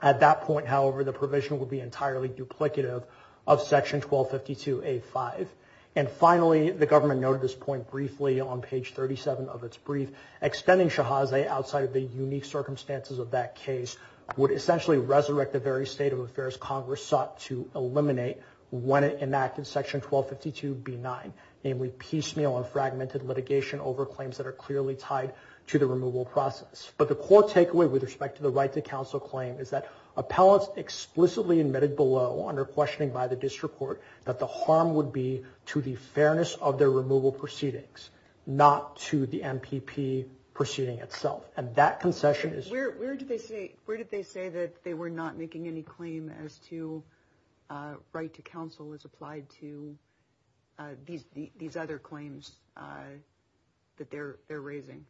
At that point, however, the provision would be entirely duplicative of Section 1252a5. And finally, the government noted this point briefly on page 37 of its brief, extending Shahaze outside of the unique circumstances of that case would essentially resurrect the very state of affairs Congress sought to eliminate when it enacted Section 1252b9, namely piecemeal and fragmented litigation over claims that are clearly tied to the removal process. But the core takeaway with respect to the right to counsel claim is that appellants explicitly admitted below under questioning by the district court that the harm would be to the fairness of their removal proceedings, not to the MPP proceeding itself. And that concession is... Where did they say that they were not making any claim as to right to counsel as applied to these other claims that they're raising?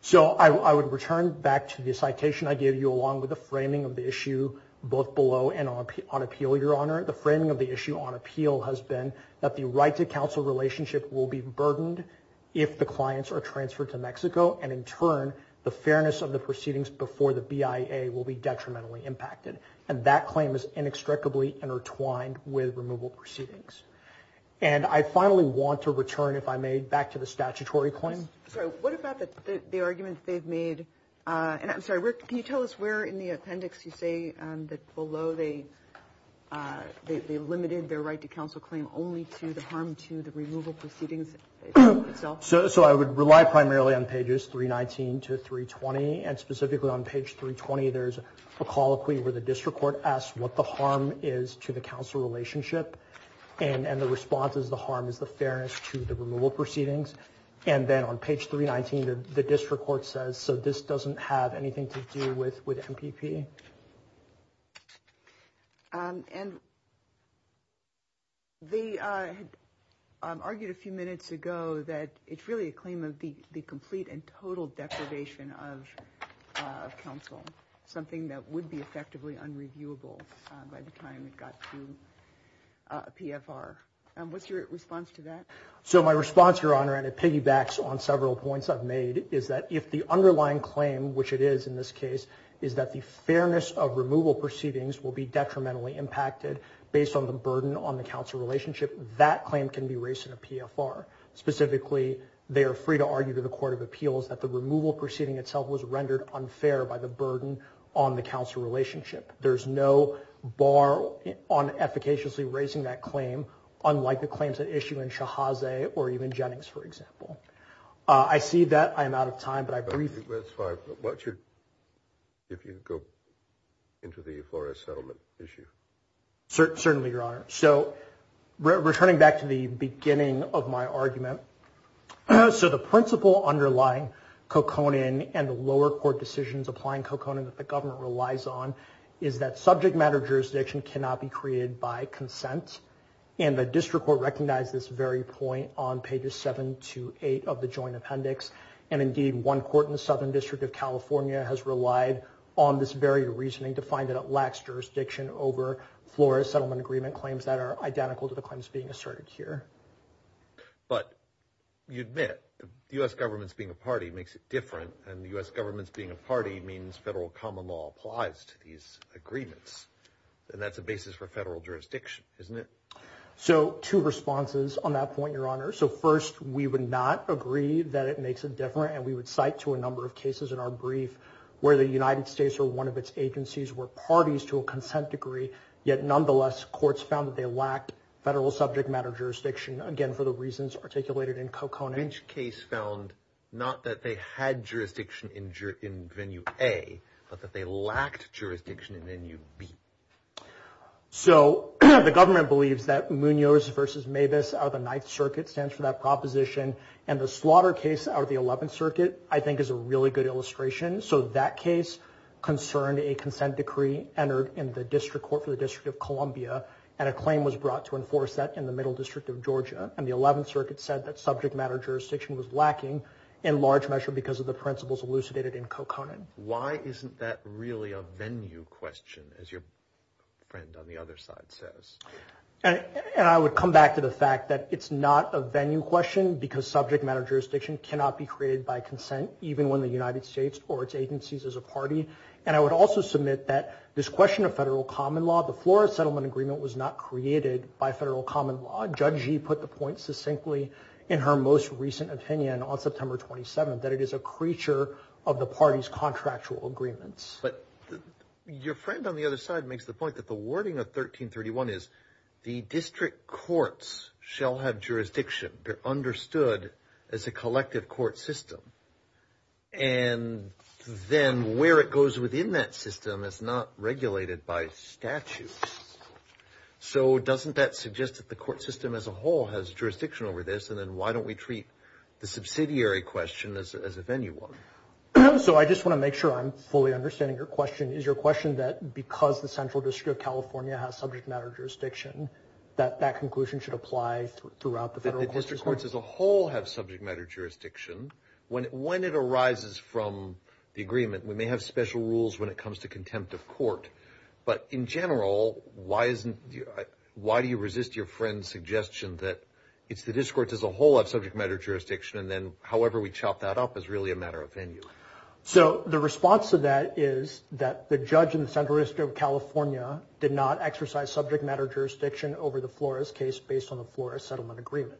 So I would return back to the citation I gave you along with the framing of the issue both below and on appeal, Your Honor. The framing of the issue on appeal has been that the right to counsel relationship will be burdened if the clients are transferred to Mexico, and in turn, the fairness of the proceedings before the BIA will be detrimentally impacted. And that claim is inextricably intertwined with removal proceedings. And I finally want to return, if I may, back to the statutory claim. Sorry, what about the argument they've made? And I'm sorry, Rick, can you tell us where in the appendix you say that below they limited their right to counsel claim only to the harm to the removal proceedings itself? So I would rely primarily on pages 319 to 320. And specifically on page 320, there's a colloquy where the district court asks what the harm is to the counsel relationship. And the response is the harm is the fairness to the removal proceedings. And then on page 319, the district court says, so this doesn't have anything to do with MPP. And they argued a few minutes ago that it's really a claim of the complete and total deprivation of counsel, something that would be effectively unreviewable by the time it got to PFR. What's your response to that? So my response, Your Honor, and it piggybacks on several points I've made, is that if the underlying claim, which it is in this case, is that the fairness of removal proceedings will be detrimentally impacted based on the burden on the counsel relationship, that claim can be raised in a PFR. Specifically, they are free to argue to the court of appeals that the removal proceeding itself was rendered unfair by the burden on the counsel relationship. There's no bar on efficaciously raising that claim, unlike the claims at issue in Shahazeh or even Jennings, for example. I see that I'm out of time, but I briefly- That's fine. But why don't you, if you could go into the Flores settlement issue. Certainly, Your Honor. So returning back to the beginning of my argument, so the principle underlying co-conin and the lower court decisions applying co-conin that the government relies on is that subject matter jurisdiction cannot be created by consent. And the district court recognized this very point on pages 7 to 8 of the joint appendix. And indeed, one court in the Southern District of California has relied on this very reasoning to find that it lacks jurisdiction over Flores settlement agreement claims that are identical to the claims being asserted here. But you admit, the U.S. government's being a party makes it different, and the U.S. government's being a party means federal common law applies to these agreements. And that's a basis for federal jurisdiction, isn't it? So two responses on that point, Your Honor. So first, we would not agree that it makes it different, and we would cite to a number of cases in our brief where the United States or one of its agencies were parties to a consent degree, yet nonetheless courts found that they lacked federal subject matter jurisdiction, again, for the reasons articulated in co-conin. Which case found not that they had jurisdiction in venue A, but that they lacked jurisdiction in venue B. So the government believes that Munoz versus Mavis out of the Ninth Circuit stands for that proposition, and the slaughter case out of the Eleventh Circuit, I think, is a really good illustration. So that case concerned a consent decree entered in the district court for the District of Columbia, and a claim was brought to enforce that in the Middle District of Georgia. And the Eleventh Circuit said that subject matter jurisdiction was lacking in large measure because of the principles elucidated in co-conin. Why isn't that really a venue question, as your friend on the other side says? And I would come back to the fact that it's not a venue question because subject matter jurisdiction cannot be created by consent, even when the United States or its agencies is a party. And I would also submit that this question of federal common law, the Flores Settlement Agreement was not created by federal common law. Judge Gee put the point succinctly in her most recent opinion on September 27th, that it is a creature of the party's contractual agreements. But your friend on the other side makes the point that the wording of 1331 is the district courts shall have jurisdiction. They're understood as a collective court system. And then where it goes within that system is not regulated by statute. So doesn't that suggest that the court system as a whole has jurisdiction over this, and then why don't we treat the subsidiary question as a venue one? So I just want to make sure I'm fully understanding your question. Is your question that because the Central District of California has subject matter jurisdiction, that that conclusion should apply throughout the federal courts as well? The district courts as a whole have subject matter jurisdiction. When it arises from the agreement, we may have special rules when it comes to contempt of court, but in general, why do you resist your friend's suggestion that it's the district courts as a whole that have subject matter jurisdiction, and then however we chop that up is really a matter of venue? So the response to that is that the judge in the Central District of California did not exercise subject matter jurisdiction over the Flores case based on the Flores Settlement Agreement.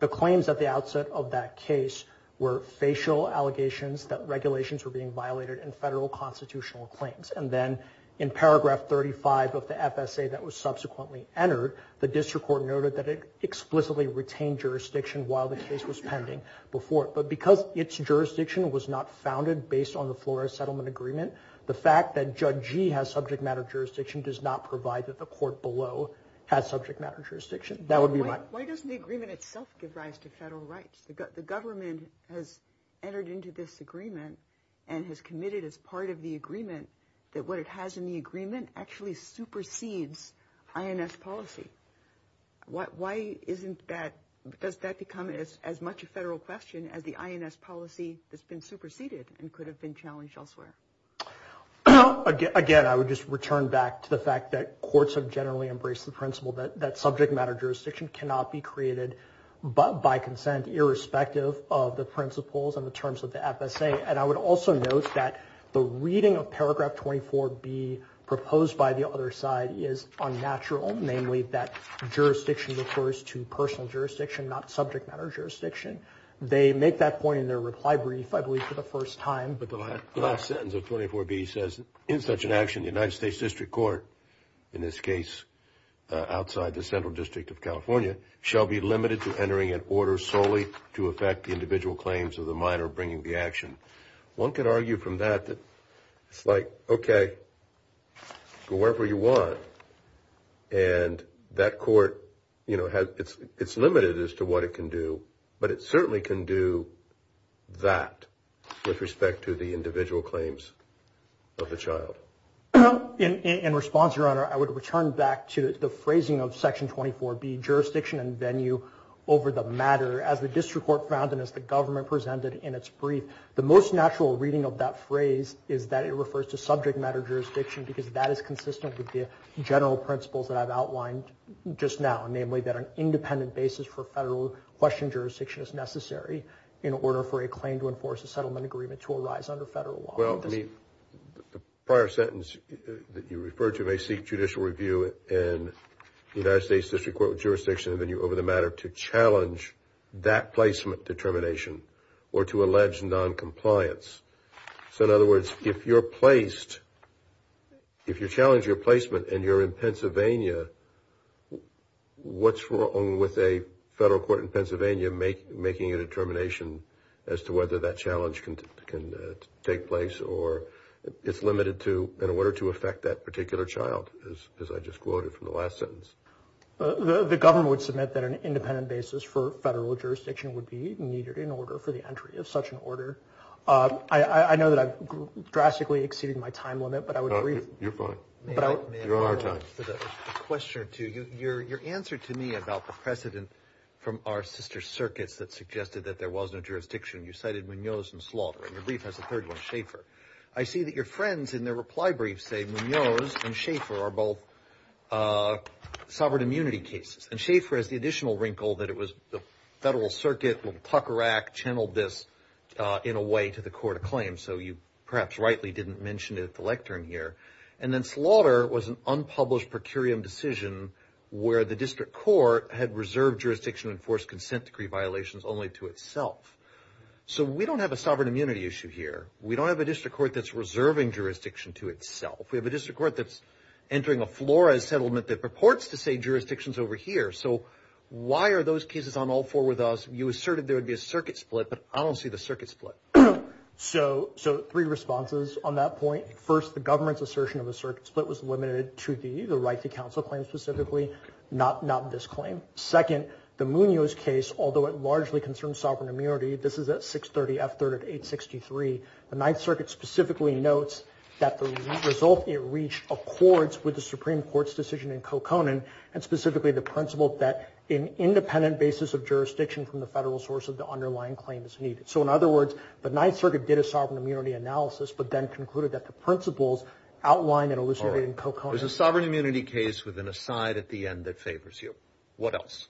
The claims at the outset of that case were facial allegations that regulations were being violated in federal constitutional claims. And then in paragraph 35 of the FSA that was subsequently entered, the district court noted that it explicitly retained jurisdiction while the case was pending before it. But because its jurisdiction was not founded based on the Flores Settlement Agreement, the fact that Judge Gee has subject matter jurisdiction does not provide that the court below has subject matter jurisdiction. Why doesn't the agreement itself give rise to federal rights? The government has entered into this agreement and has committed as part of the agreement that what it has in the agreement actually supersedes INS policy. Why isn't that, does that become as much a federal question as the INS policy that's been superseded and could have been challenged elsewhere? Again, I would just return back to the fact that courts have generally embraced the principle that subject matter jurisdiction cannot be created by consent irrespective of the principles and the terms of the FSA. And I would also note that the reading of paragraph 24B proposed by the other side is unnatural, namely that jurisdiction refers to personal jurisdiction, not subject matter jurisdiction. They make that point in their reply brief, I believe, for the first time. But the last sentence of 24B says, In such an action, the United States District Court, in this case outside the Central District of California, shall be limited to entering an order solely to effect the individual claims of the minor bringing the action. One could argue from that that it's like, okay, go wherever you want. And that court, you know, it's limited as to what it can do, but it certainly can do that with respect to the individual claims of the child. In response, Your Honor, I would return back to the phrasing of section 24B, jurisdiction and venue over the matter, as the district court found and as the government presented in its brief. The most natural reading of that phrase is that it refers to subject matter jurisdiction because that is consistent with the general principles that I've outlined just now, namely that an independent basis for federal question jurisdiction is necessary in order for a claim to enforce a settlement agreement to arise under federal law. Well, I mean, the prior sentence that you referred to may seek judicial review in the United States District Court of Jurisdiction and venue over the matter to challenge that placement determination or to allege noncompliance. So in other words, if you're placed, if you challenge your placement and you're in Pennsylvania, what's wrong with a federal court in Pennsylvania making a determination as to whether that challenge can take place or it's limited to in order to affect that particular child, as I just quoted from the last sentence? The government would submit that an independent basis for federal jurisdiction would be needed in order for the entry of such an order. I know that I've drastically exceeded my time limit, but I would agree. You're fine. You're on time. A question or two. Your answer to me about the precedent from our sister circuits that suggested that there was no jurisdiction, you cited Munoz and Slaughter, and your brief has a third one, Schaefer. I see that your friends in their reply brief say Munoz and Schaefer are both sovereign immunity cases, and Schaefer has the additional wrinkle that it was the Federal Circuit, little tucker act channeled this in a way to the court of claims. So you perhaps rightly didn't mention it at the lectern here. And then Slaughter was an unpublished per curiam decision where the district court had reserved jurisdiction and enforced consent decree violations only to itself. So we don't have a sovereign immunity issue here. We don't have a district court that's reserving jurisdiction to itself. We have a district court that's entering a Flores settlement that purports to say jurisdiction's over here. So why are those cases on all four with us? You asserted there would be a circuit split, but I don't see the circuit split. So three responses on that point. First, the government's assertion of a circuit split was limited to the right to counsel claim specifically, not this claim. Second, the Munoz case, although it largely concerns sovereign immunity, this is at 630 F. 3rd of 863. The Ninth Circuit specifically notes that the result it reached accords with the Supreme Court's decision in Coconin and specifically the principle that an independent basis of jurisdiction from the federal source of the underlying claim is needed. So, in other words, the Ninth Circuit did a sovereign immunity analysis, but then concluded that the principles outlined and elucidated in Coconin. There's a sovereign immunity case with an aside at the end that favors you. What else?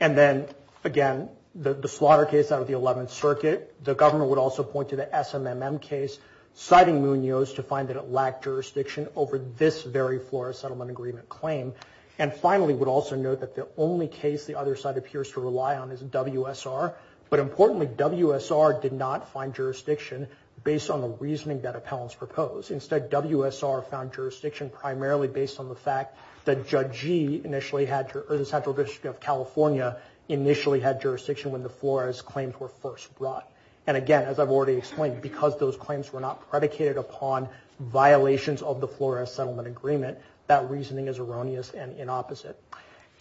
And then, again, the Slaughter case out of the Eleventh Circuit, the government would also point to the SMMM case, citing Munoz to find that it lacked jurisdiction over this very Flores settlement agreement claim, and finally would also note that the only case the other side appears to rely on is WSR, but importantly, WSR did not find jurisdiction based on the reasoning that appellants proposed. Instead, WSR found jurisdiction primarily based on the fact that Judge G initially had, or the Central District of California initially had jurisdiction when the Flores claims were first brought. And, again, as I've already explained, because those claims were not predicated upon violations of the Flores settlement agreement, that reasoning is erroneous and inopposite.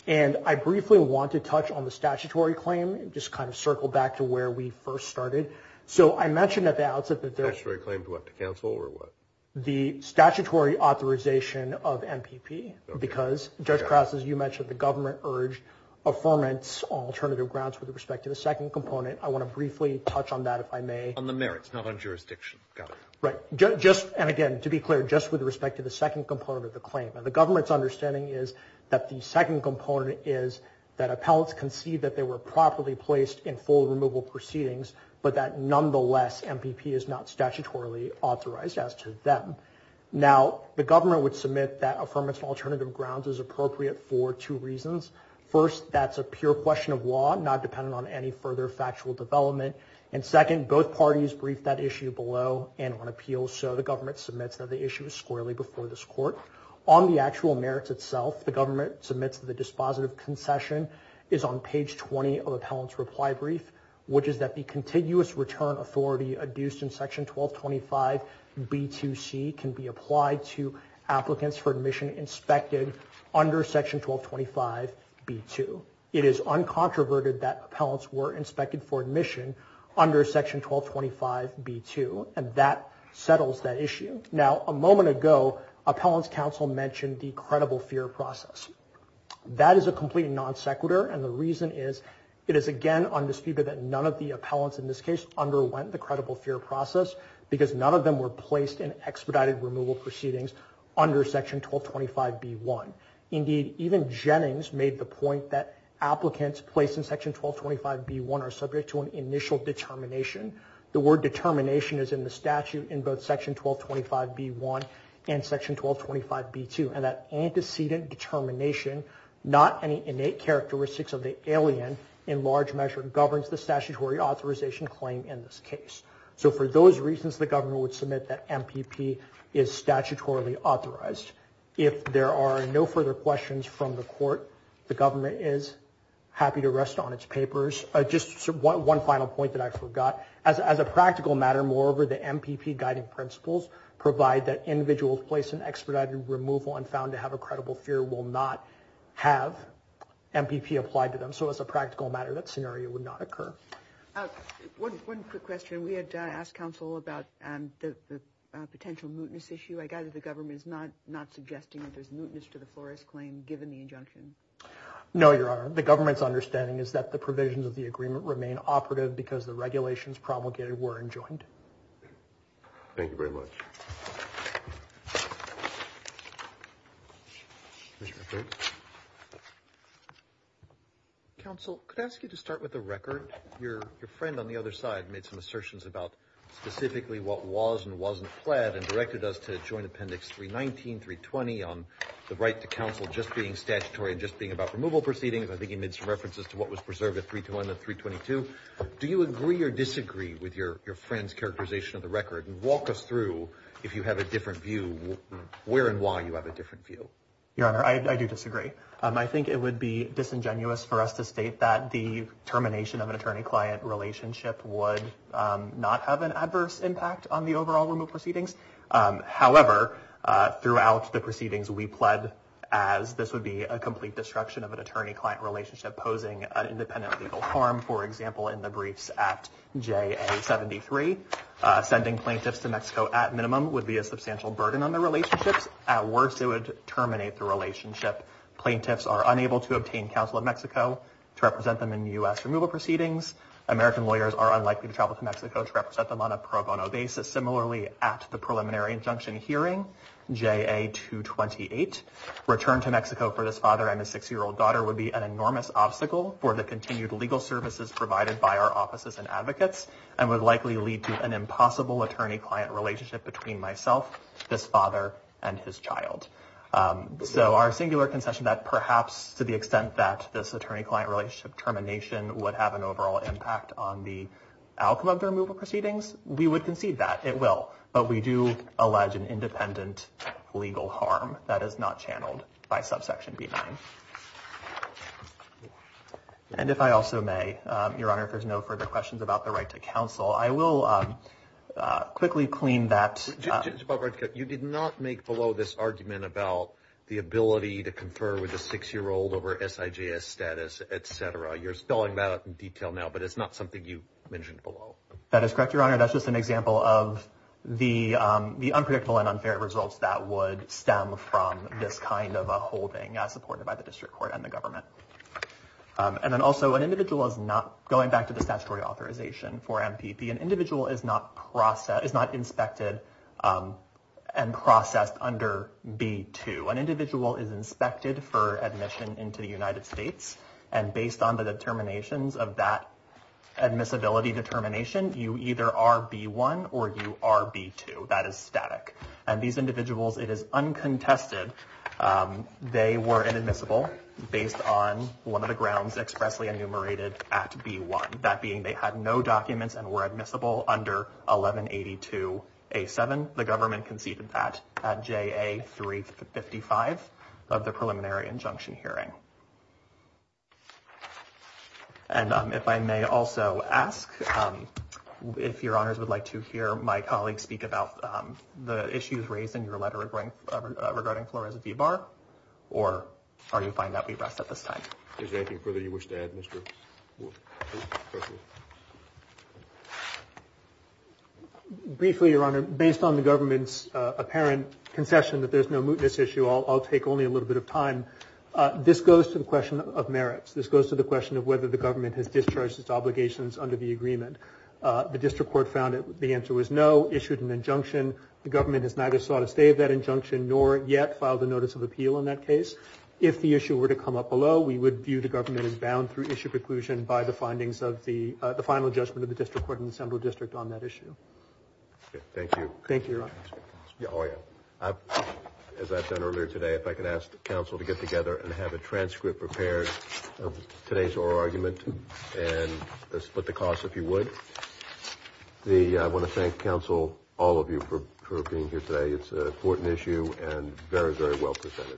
And I briefly want to touch on the statutory claim, just kind of circle back to where we first started. So I mentioned at the outset that there- Statutory claim to what, to counsel, or what? The statutory authorization of MPP, because, Judge Krause, as you mentioned, the government urged affirmance on alternative grounds with respect to the second component. I want to briefly touch on that, if I may. On the merits, not on jurisdiction. Got it. Right. Just, and again, to be clear, just with respect to the second component of the claim. Now, the government's understanding is that the second component is that appellants conceived that they were properly placed in full removal proceedings, but that, nonetheless, MPP is not statutorily authorized as to them. Now, the government would submit that affirmance on alternative grounds is appropriate for two reasons. First, that's a pure question of law, not dependent on any further factual development. And, second, both parties briefed that issue below and on appeal. So the government submits that the issue is squarely before this court. On the actual merits itself, the government submits that the dispositive concession is on page 20 of appellant's reply brief, which is that the contiguous return authority adduced in section 1225B2C can be applied to applicants for admission inspected under section 1225B2. It is uncontroverted that appellants were inspected for admission under section 1225B2, and that settles that issue. Now, a moment ago, appellant's counsel mentioned the credible fear process. That is a complete non sequitur, and the reason is it is, again, undisputed that none of the appellants in this case underwent the credible fear process because none of them were placed in expedited removal proceedings under section 1225B1. Indeed, even Jennings made the point that applicants placed in section 1225B1 are subject to an initial determination. The word determination is in the statute in both section 1225B1 and section 1225B2, and that antecedent determination, not any innate characteristics of the alien, in large measure governs the statutory authorization claim in this case. So for those reasons, the governor would submit that MPP is statutorily authorized. If there are no further questions from the court, the government is happy to rest on its papers. Just one final point that I forgot. As a practical matter, moreover, the MPP guiding principles provide that individuals placed in expedited removal and found to have a credible fear will not have MPP applied to them. So as a practical matter, that scenario would not occur. One quick question. We had asked counsel about the potential mootness issue. I gather the government is not suggesting that there's mootness to the Flores claim, given the injunction. No, Your Honor. The government's understanding is that the provisions of the agreement remain operative because the regulations promulgated were enjoined. Thank you very much. Counsel, could I ask you to start with the record? Your friend on the other side made some assertions about specifically what was and wasn't applied and directed us to join Appendix 319, 320 on the right to counsel just being statutory and just being about removal proceedings. I think he made some references to what was preserved at 321 and 322. Do you agree or disagree with your friend's characterization of the record? Walk us through, if you have a different view, where and why you have a different view. Your Honor, I do disagree. I think it would be disingenuous for us to state that the termination of an attorney-client relationship would not have an adverse impact on the overall removal proceedings. However, throughout the proceedings, we pled as this would be a complete destruction of an attorney-client relationship posing an independent legal harm, for example, in the briefs at JA73. Sending plaintiffs to Mexico at minimum would be a substantial burden on the relationships. At worst, it would terminate the relationship. Plaintiffs are unable to obtain counsel in Mexico to represent them in U.S. removal proceedings. American lawyers are unlikely to travel to Mexico to represent them on a pro bono basis. Similarly, at the preliminary injunction hearing, JA228, return to Mexico for this father and his six-year-old daughter would be an enormous obstacle for the continued legal services provided by our offices and advocates and would likely lead to an impossible attorney-client relationship between myself, this father, and his child. So our singular concession that perhaps to the extent that this attorney-client relationship termination would have an overall impact on the outcome of the removal proceedings, we would concede that. It will, but we do allege an independent legal harm that is not channeled by subsection B9. And if I also may, Your Honor, if there's no further questions about the right to counsel, I will quickly clean that. You did not make below this argument about the ability to confer with a six-year-old over SIJS status, et cetera. You're spelling that out in detail now, but it's not something you mentioned below. That is correct, Your Honor. That's just an example of the unpredictable and unfair results that would stem from this kind of a holding supported by the district court and the government. And then also an individual is not, going back to the statutory authorization for MPP, an individual is not inspected and processed under B2. An individual is inspected for admission into the United States, and based on the determinations of that admissibility determination, you either are B1 or you are B2. That is static. And these individuals, it is uncontested, they were inadmissible based on one of the grounds expressly enumerated at B1, that being they had no documents and were admissible under 1182A7. The government conceded that at JA355 of the preliminary injunction hearing. And if I may also ask if Your Honors would like to hear my colleague speak about the issues raised in your letter regarding Flores v. Barr, or are you fine that we rest at this time? Is there anything further you wish to add, Mr. Wood? Briefly, Your Honor, based on the government's apparent concession that there's no mootness issue, I'll take only a little bit of time. This goes to the question of merits. This goes to the question of whether the government has discharged its obligations under the agreement. The district court found that the answer was no, issued an injunction. The government has neither sought a stay of that injunction nor yet filed a notice of appeal on that case. If the issue were to come up below, we would view the government as bound through issue preclusion by the findings of the final judgment of the district court and the assembly district on that issue. Thank you. Thank you, Your Honor. As I've done earlier today, if I could ask the counsel to get together and have a transcript prepared of today's oral argument and split the cost if you would. I want to thank counsel, all of you, for being here today. It's an important issue and very, very well presented. Thank you.